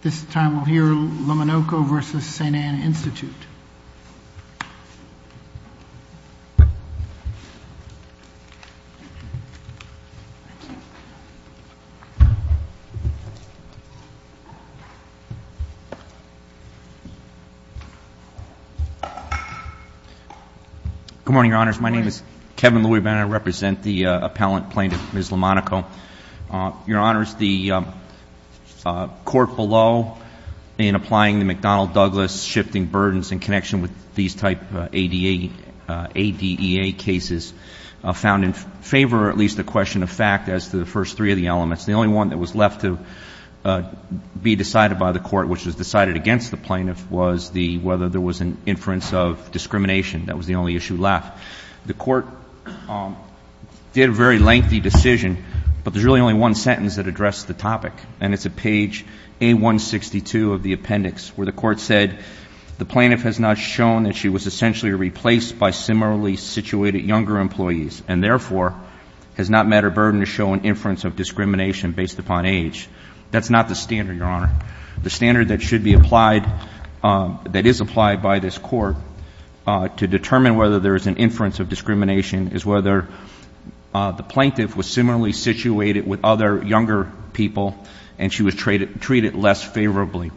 Good morning, Your Honors. My name is Kevin Louie Benner. I represent the appellant plaintiff, Ms. Lomonoco. So, Your Honors, the court below, in applying the McDonnell-Douglas shifting burdens in connection with these type of ADEA cases, found in favor, or at least a question of fact, as to the first three of the elements. The only one that was left to be decided by the court, which was decided against the plaintiff, was whether there was an inference of discrimination. That was the only issue left. The court did a very lengthy decision, but there's really only one sentence that addressed the topic, and it's at page A-162 of the appendix, where the court said, the plaintiff has not shown that she was essentially replaced by similarly situated younger employees, and therefore, has not met her burden to show an inference of discrimination based upon age. That's not the standard, Your Honor. The standard that should be applied, that is applied by this court, to determine whether there is an inference of discrimination, is whether the plaintiff was similarly situated with other younger people, and she was treated less favorably.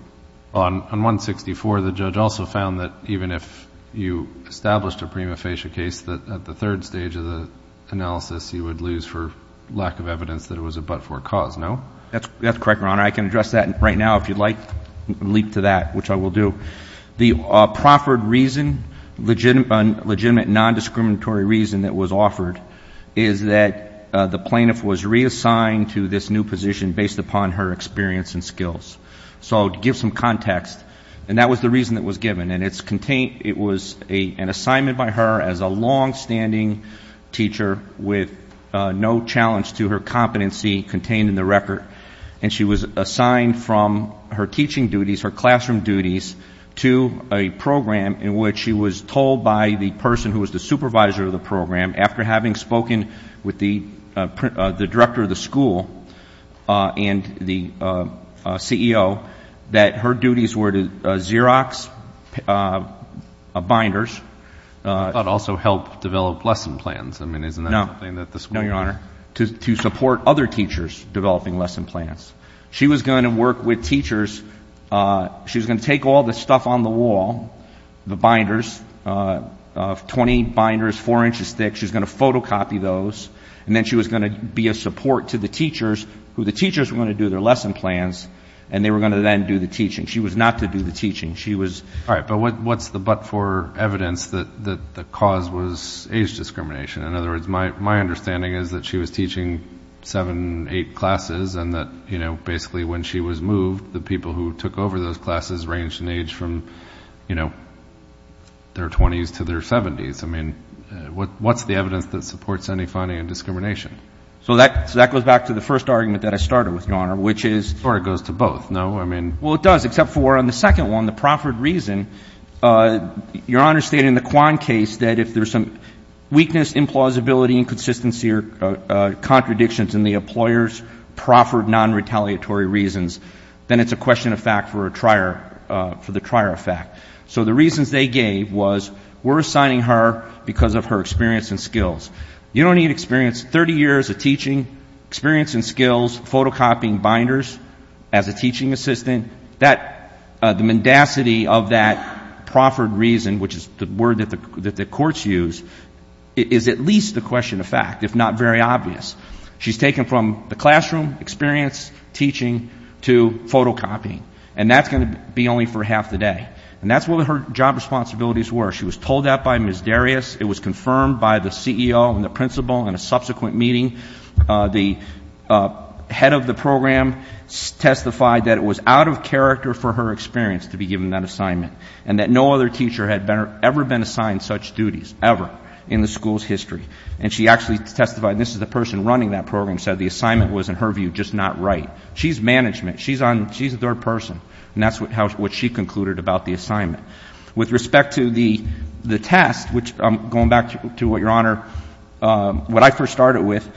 On 164, the judge also found that even if you established a prima facie case, that at the third stage of the analysis, you would lose for lack of evidence that it was a but-for cause, no? That's correct, Your Honor. I can address that right now, if you'd like, leap to that, which I will do. The proffered reason, legitimate non-discriminatory reason that was offered, is that the plaintiff was reassigned to this new position based upon her experience and skills. So to give some context, and that was the reason it was given. And it was an assignment by her as a longstanding teacher with no challenge to her competency contained in the record. And she was assigned from her teaching duties, her classroom duties, to a program in which she was told by the person who was the supervisor of the program, after having spoken with the director of the school and the CEO, that her duties were to Xerox binders. But also help develop lesson plans. I mean, isn't that something that the school- No, no, Your Honor. To support other teachers developing lesson plans. She was going to work with teachers, she was going to take all the stuff on the wall, the binders, 20 binders, four inches thick, she was going to photocopy those. And then she was going to be a support to the teachers, who the teachers were going to do their lesson plans, and they were going to then do the teaching. She was not to do the teaching. She was- All right, but what's the but-for evidence that the cause was age discrimination? In other words, my understanding is that she was teaching seven, eight classes, and that basically when she was moved, the people who took over those classes ranged in age from their 20s to their 70s. I mean, what's the evidence that supports any finding of discrimination? So that goes back to the first argument that I started with, Your Honor, which is- Or it goes to both, no? I mean- Well, it does, except for on the second one, the proffered reason. Your Honor stated in the Quan case that if there's some weakness, implausibility, inconsistency, or contradictions in the employer's proffered non-retaliatory reasons, then it's a question of fact for the trier of fact. So the reasons they gave was, we're assigning her because of her experience and skills. You don't need experience, 30 years of teaching, experience and skills, photocopying binders as a teaching assistant. The mendacity of that proffered reason, which is the word that the courts use, is at least a question of fact, if not very obvious. She's taken from the classroom experience, teaching, to photocopying, and that's going to be only for half the day, and that's what her job responsibilities were. She was told that by Ms. Darius. It was confirmed by the CEO and the principal in a subsequent meeting. The head of the program testified that it was out of character for her experience to be given that assignment. And that no other teacher had ever been assigned such duties, ever, in the school's history. And she actually testified, and this is the person running that program, said the assignment was, in her view, just not right. She's management, she's the third person, and that's what she concluded about the assignment. With respect to the test, which I'm going back to what your honor, what I first started with,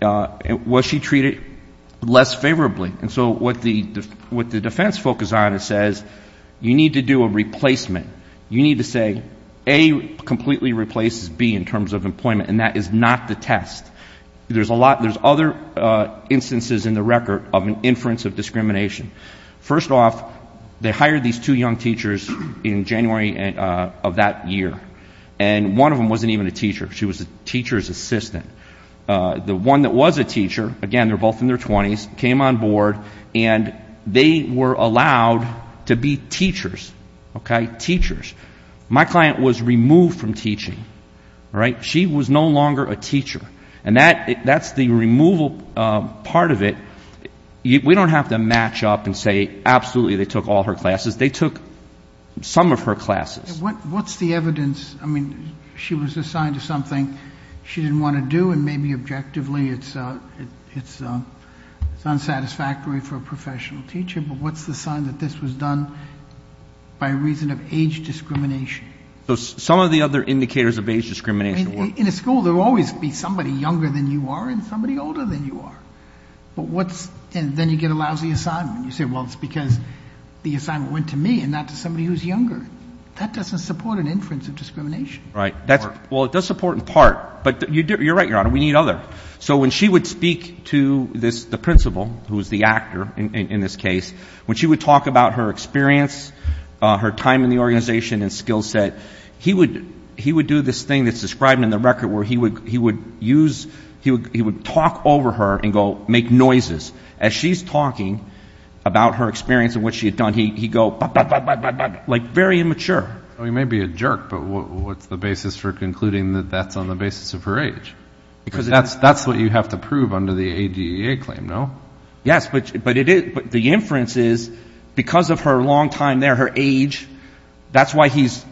was she treated less favorably? And so what the defense focus on is says, you need to do a replacement. You need to say, A, completely replaces B in terms of employment, and that is not the test. There's other instances in the record of an inference of discrimination. First off, they hired these two young teachers in January of that year. And one of them wasn't even a teacher. She was a teacher's assistant. The one that was a teacher, again, they're both in their 20s, came on board. And they were allowed to be teachers, okay, teachers. My client was removed from teaching, all right? She was no longer a teacher. And that's the removal part of it. We don't have to match up and say, absolutely, they took all her classes. They took some of her classes. What's the evidence? I mean, she was assigned to something she didn't want to do. And maybe objectively, it's unsatisfactory for a professional teacher. But what's the sign that this was done by reason of age discrimination? So some of the other indicators of age discrimination were- In a school, there will always be somebody younger than you are and somebody older than you are. But what's, and then you get a lousy assignment. You say, well, it's because the assignment went to me and not to somebody who's younger. That doesn't support an inference of discrimination. Right. Well, it does support in part, but you're right, Your Honor, we need other. So when she would speak to the principal, who is the actor in this case, when she would talk about her experience, her time in the organization and skill set, he would do this thing that's described in the record where he would use, he would talk over her and go make noises. As she's talking about her experience and what she had done, he'd go, bap, bap, bap, bap, bap, bap, like very immature. Well, he may be a jerk, but what's the basis for concluding that that's on the basis of her age? Because that's what you have to prove under the ADA claim, no? Yes, but the inference is, because of her long time there, her age, that's why he's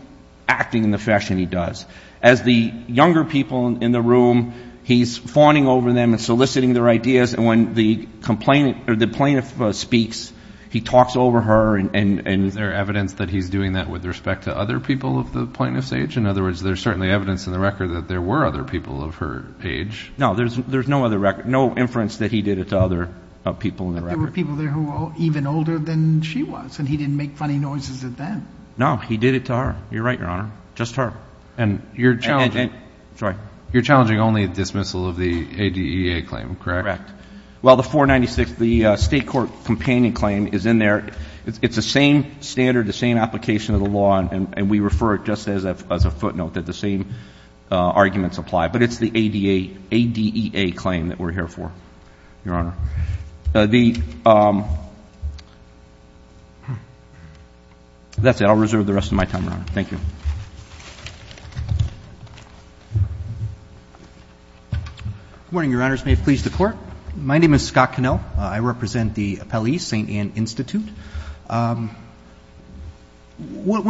acting in the fashion he does. As the younger people in the room, he's fawning over them and soliciting their ideas, and when the complainant, or the plaintiff speaks, he talks over her and... Is there evidence that he's doing that with respect to other people of the plaintiff's age? In other words, there's certainly evidence in the record that there were other people of her age. No, there's no other record, no inference that he did it to other people in the record. But there were people there who were even older than she was, and he didn't make funny noises at them. No, he did it to her. You're right, Your Honor, just her. And you're challenging only a dismissal of the ADEA claim, correct? Correct. Well, the 496, the state court companion claim is in there. It's the same standard, the same application of the law, and we refer it just as a footnote, that the same arguments apply. But it's the ADEA claim that we're here for, Your Honor. That's it, I'll reserve the rest of my time, Your Honor. Thank you. Good morning, Your Honors. May it please the Court. My name is Scott Cannell. I represent the appellee, St. Ann Institute. One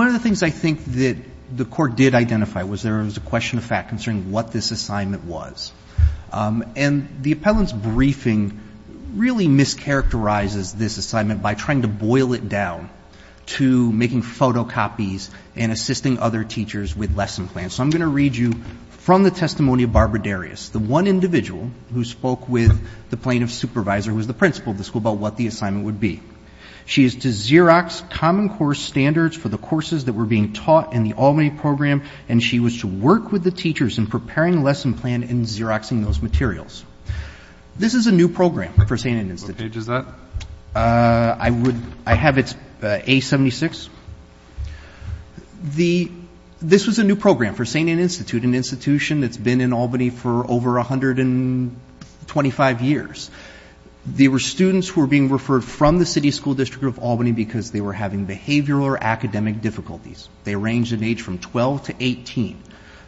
of the things I think that the court did identify was there was a question of fact concerning what this assignment was. And the appellant's briefing really mischaracterizes this assignment by trying to boil it down to making photocopies and assisting other teachers with lesson plans. So I'm going to read you from the testimony of Barbara Darius, the one individual who spoke with the plaintiff's supervisor, who was the principal of the school, about what the assignment would be. She is to Xerox common core standards for the courses that were being taught in the Albany program, and she was to work with the teachers in preparing a lesson plan and Xeroxing those materials. This is a new program for St. Ann Institute. What page is that? I would, I have it, it's A-76. This was a new program for St. Ann Institute, an institution that's been in Albany for over 125 years. They were students who were being referred from the city school district of Albany because they were having behavioral or academic difficulties. They ranged in age from 12 to 18.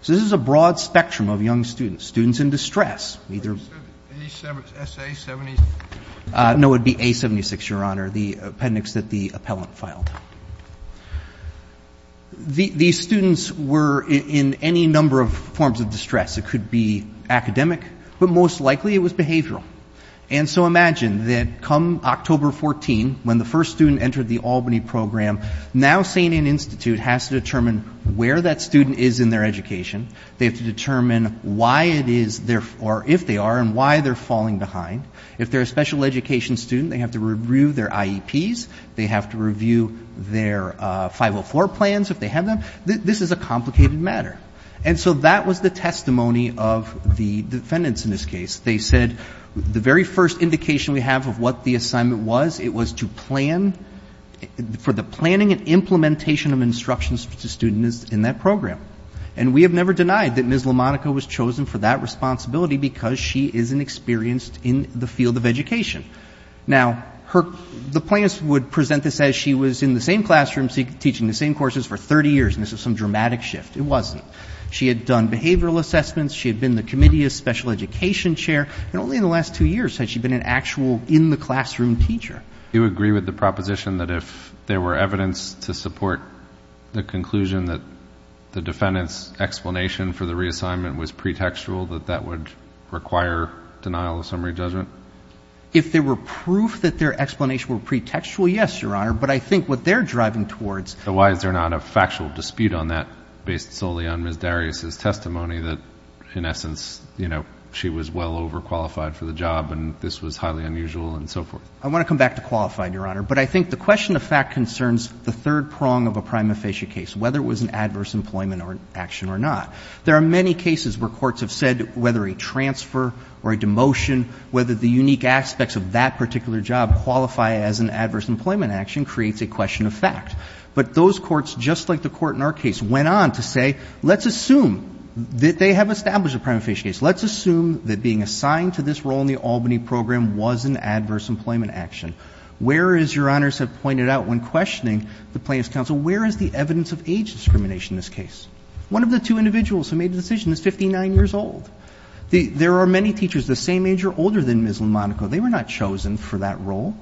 So this is a broad spectrum of young students, students in distress. Either. A-76, S-A-76. No, it would be A-76, Your Honor, the appendix that the appellant filed. These students were in any number of forms of distress. It could be academic, but most likely it was behavioral. And so imagine that come October 14, when the first student entered the Albany program, now St. Ann Institute has to determine where that student is in their education. They have to determine why it is, or if they are, and why they're falling behind. If they're a special education student, they have to review their IEPs. They have to review their 504 plans, if they have them. This is a complicated matter. And so that was the testimony of the defendants in this case. They said, the very first indication we have of what the assignment was, it was to plan, for the planning and implementation of instructions to students in that program. And we have never denied that Ms. LaMonica was chosen for that responsibility because she is an experienced in the field of education. Now, the plaintiffs would present this as she was in the same classroom teaching the same courses for 30 years, and this was some dramatic shift. It wasn't. She had done behavioral assessments. She had been the committee's special education chair. And only in the last two years had she been an actual in-the-classroom teacher. You agree with the proposition that if there were evidence to support the conclusion that the defendant's explanation for the reassignment was pretextual, that that would require denial of summary judgment? If there were proof that their explanation were pretextual, yes, Your Honor. But I think what they're driving towards. So why is there not a factual dispute on that, based solely on Ms. Darius' testimony, that in essence, you know, she was well overqualified for the job and this was highly unusual and so forth? I want to come back to qualified, Your Honor. But I think the question of fact concerns the third prong of a prima facie case, whether it was an adverse employment action or not. There are many cases where courts have said whether a transfer or a demotion, whether the unique aspects of that particular job qualify as an adverse employment action, creates a question of fact. But those courts, just like the court in our case, went on to say, let's assume that they have established a prima facie case. Let's assume that being assigned to this role in the Albany program was an adverse employment action. Whereas, Your Honors have pointed out when questioning the plaintiff's counsel, where is the evidence of age discrimination in this case? One of the two individuals who made the decision is 59 years old. There are many teachers the same age or older than Ms. Lamonaco. They were not chosen for that role.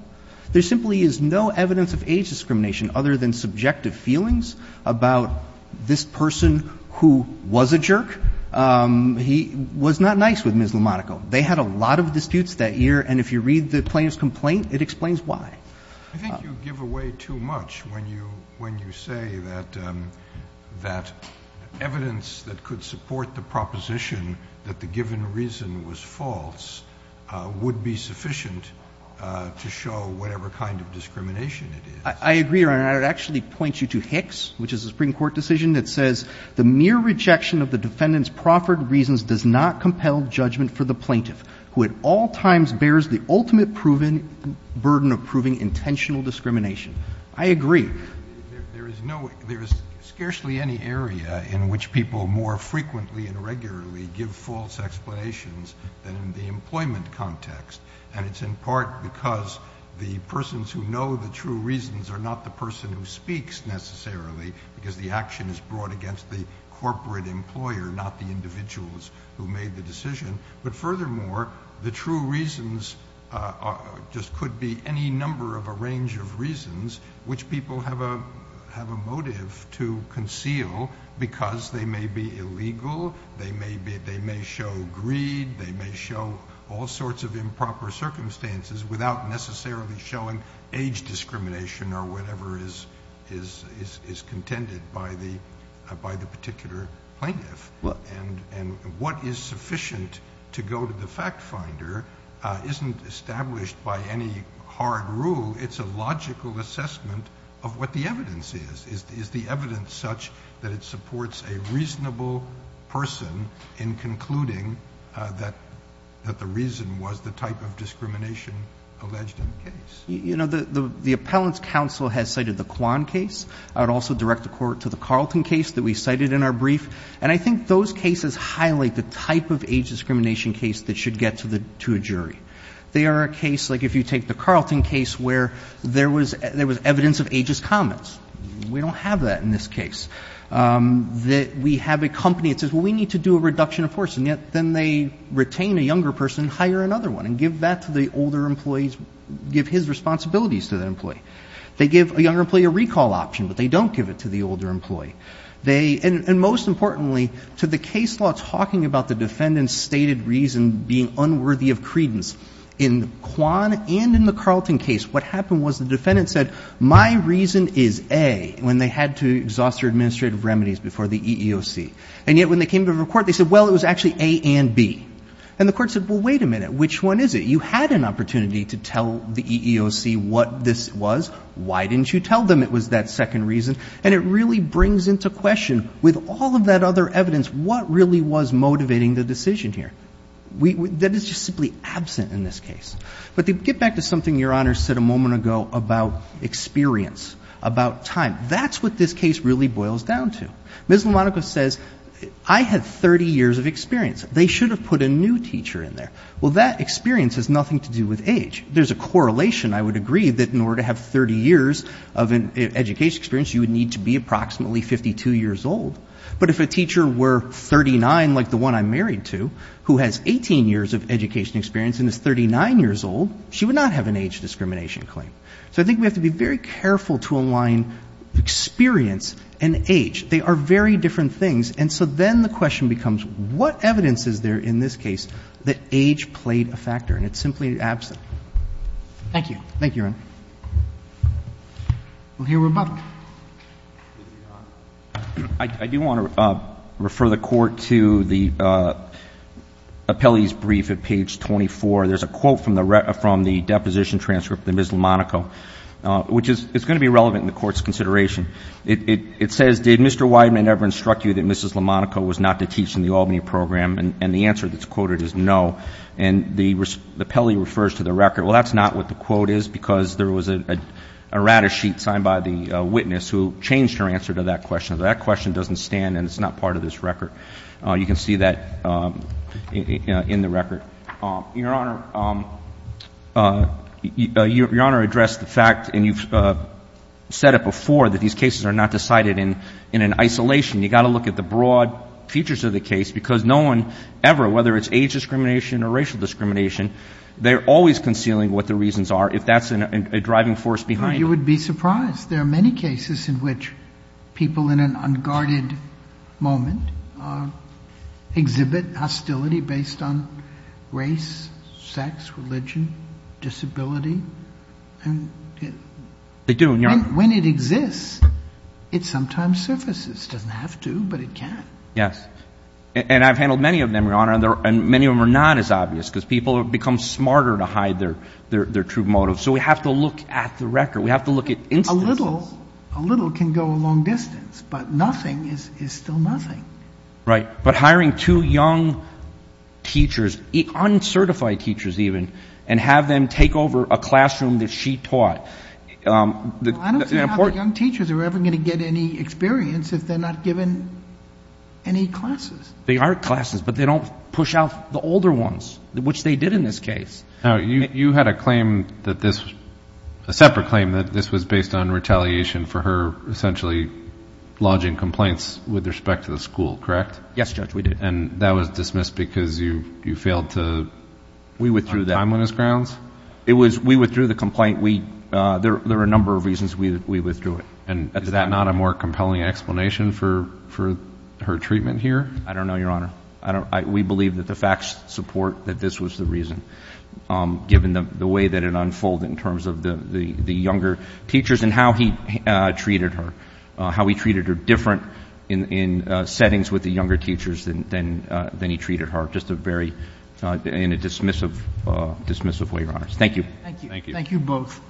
There simply is no evidence of age discrimination other than subjective feelings about this person who was a jerk. He was not nice with Ms. Lamonaco. They had a lot of disputes that year. And if you read the plaintiff's complaint, it explains why. I think you give away too much when you say that evidence that could support the proposition that the given reason was false would be sufficient to show whatever kind of discrimination it is. I agree, Your Honor. And I would actually point you to Hicks, which is a Supreme Court decision that says, the mere rejection of the defendant's proffered reasons does not compel judgment for the plaintiff, who at all times bears the ultimate burden of proving intentional discrimination. I agree. There is scarcely any area in which people more frequently and regularly give false explanations than in the employment context. And it's in part because the persons who know the true reasons are not the person who speaks, necessarily, because the action is brought against the corporate employer, not the individuals who made the decision. But furthermore, the true reasons just could be any number of a range of reasons which people have a motive to conceal because they may be illegal, they may show greed, they may show all sorts of improper circumstances without necessarily showing age discrimination or whatever is contended by the particular plaintiff. And what is sufficient to go to the fact finder isn't established by any hard rule, it's a logical assessment of what the evidence is. Is the evidence such that it supports a reasonable person in concluding that the reason was the type of discrimination alleged in the case? The appellant's counsel has cited the Kwan case. I'd also direct the court to the Carlton case that we cited in our brief. And I think those cases highlight the type of age discrimination case that should get to a jury. They are a case, like if you take the Carlton case, where there was evidence of ageist comments. We don't have that in this case. That we have a company that says, well, we need to do a reduction of force. And yet, then they retain a younger person, hire another one, and give that to the older employees, give his responsibilities to that employee. They give a younger employee a recall option, but they don't give it to the older employee. And most importantly, to the case law talking about the defendant's stated reason being unworthy of credence. In Kwan and in the Carlton case, what happened was the defendant said, my reason is A, when they had to exhaust their administrative remedies before the EEOC. And yet, when they came to the court, they said, well, it was actually A and B. And the court said, well, wait a minute, which one is it? You had an opportunity to tell the EEOC what this was. Why didn't you tell them it was that second reason? And it really brings into question, with all of that other evidence, what really was motivating the decision here? That is just simply absent in this case. But to get back to something your Honor said a moment ago about experience, about time. That's what this case really boils down to. Ms. Lamonaco says, I had 30 years of experience. They should have put a new teacher in there. Well, that experience has nothing to do with age. There's a correlation, I would agree, that in order to have 30 years of education experience, you would need to be approximately 52 years old. But if a teacher were 39, like the one I'm married to, who has 18 years of education experience and is 39 years old, she would not have an age discrimination claim. So I think we have to be very careful to align experience and age. They are very different things. And so then the question becomes, what evidence is there in this case that age played a factor? And it's simply absent. Thank you. Thank you, Your Honor. Well, here we're back. I do want to refer the court to the appellee's brief at page 24. There's a quote from the deposition transcript of Ms. Lamonaco, which is going to be relevant in the court's consideration. It says, did Mr. Wideman ever instruct you that Mrs. Lamonaco was not to teach in the Albany program? And the answer that's quoted is no. And the appellee refers to the record. Well, that's not what the quote is, because there was a rata sheet signed by the witness who changed her answer to that question. So that question doesn't stand, and it's not part of this record. You can see that in the record. Your Honor addressed the fact, and you've said it before, that these cases are not decided in an isolation. You've got to look at the broad features of the case, because no one ever, whether it's age discrimination or racial discrimination, they're always concealing what the reasons are, if that's a driving force behind it. You would be surprised. There are many cases in which people in an unguarded moment exhibit hostility based on race, sex, religion, disability. And when it exists, it sometimes surfaces. It doesn't have to, but it can. Yes. And I've handled many of them, Your Honor, and many of them are not as obvious, because people have become smarter to hide their true motives. So we have to look at the record. We have to look at instances. A little can go a long distance, but nothing is still nothing. Right, but hiring two young teachers, uncertified teachers even, and have them take over a classroom that she taught. I don't see how the young teachers are ever going to get any experience if they're not given any classes. They are classes, but they don't push out the older ones, which they did in this case. Now, you had a separate claim that this was based on retaliation for her essentially lodging complaints with respect to the school, correct? Yes, Judge, we did. And that was dismissed because you failed to find a time on his grounds? We withdrew the complaint. There are a number of reasons we withdrew it. And is that not a more compelling explanation for her treatment here? I don't know, Your Honor. We believe that the facts support that this was the reason, given the way that it unfolded in terms of the younger teachers and how he treated her. How he treated her different in settings with the younger teachers than he treated her, just in a dismissive way, Your Honors. Thank you. Thank you. Thank you both.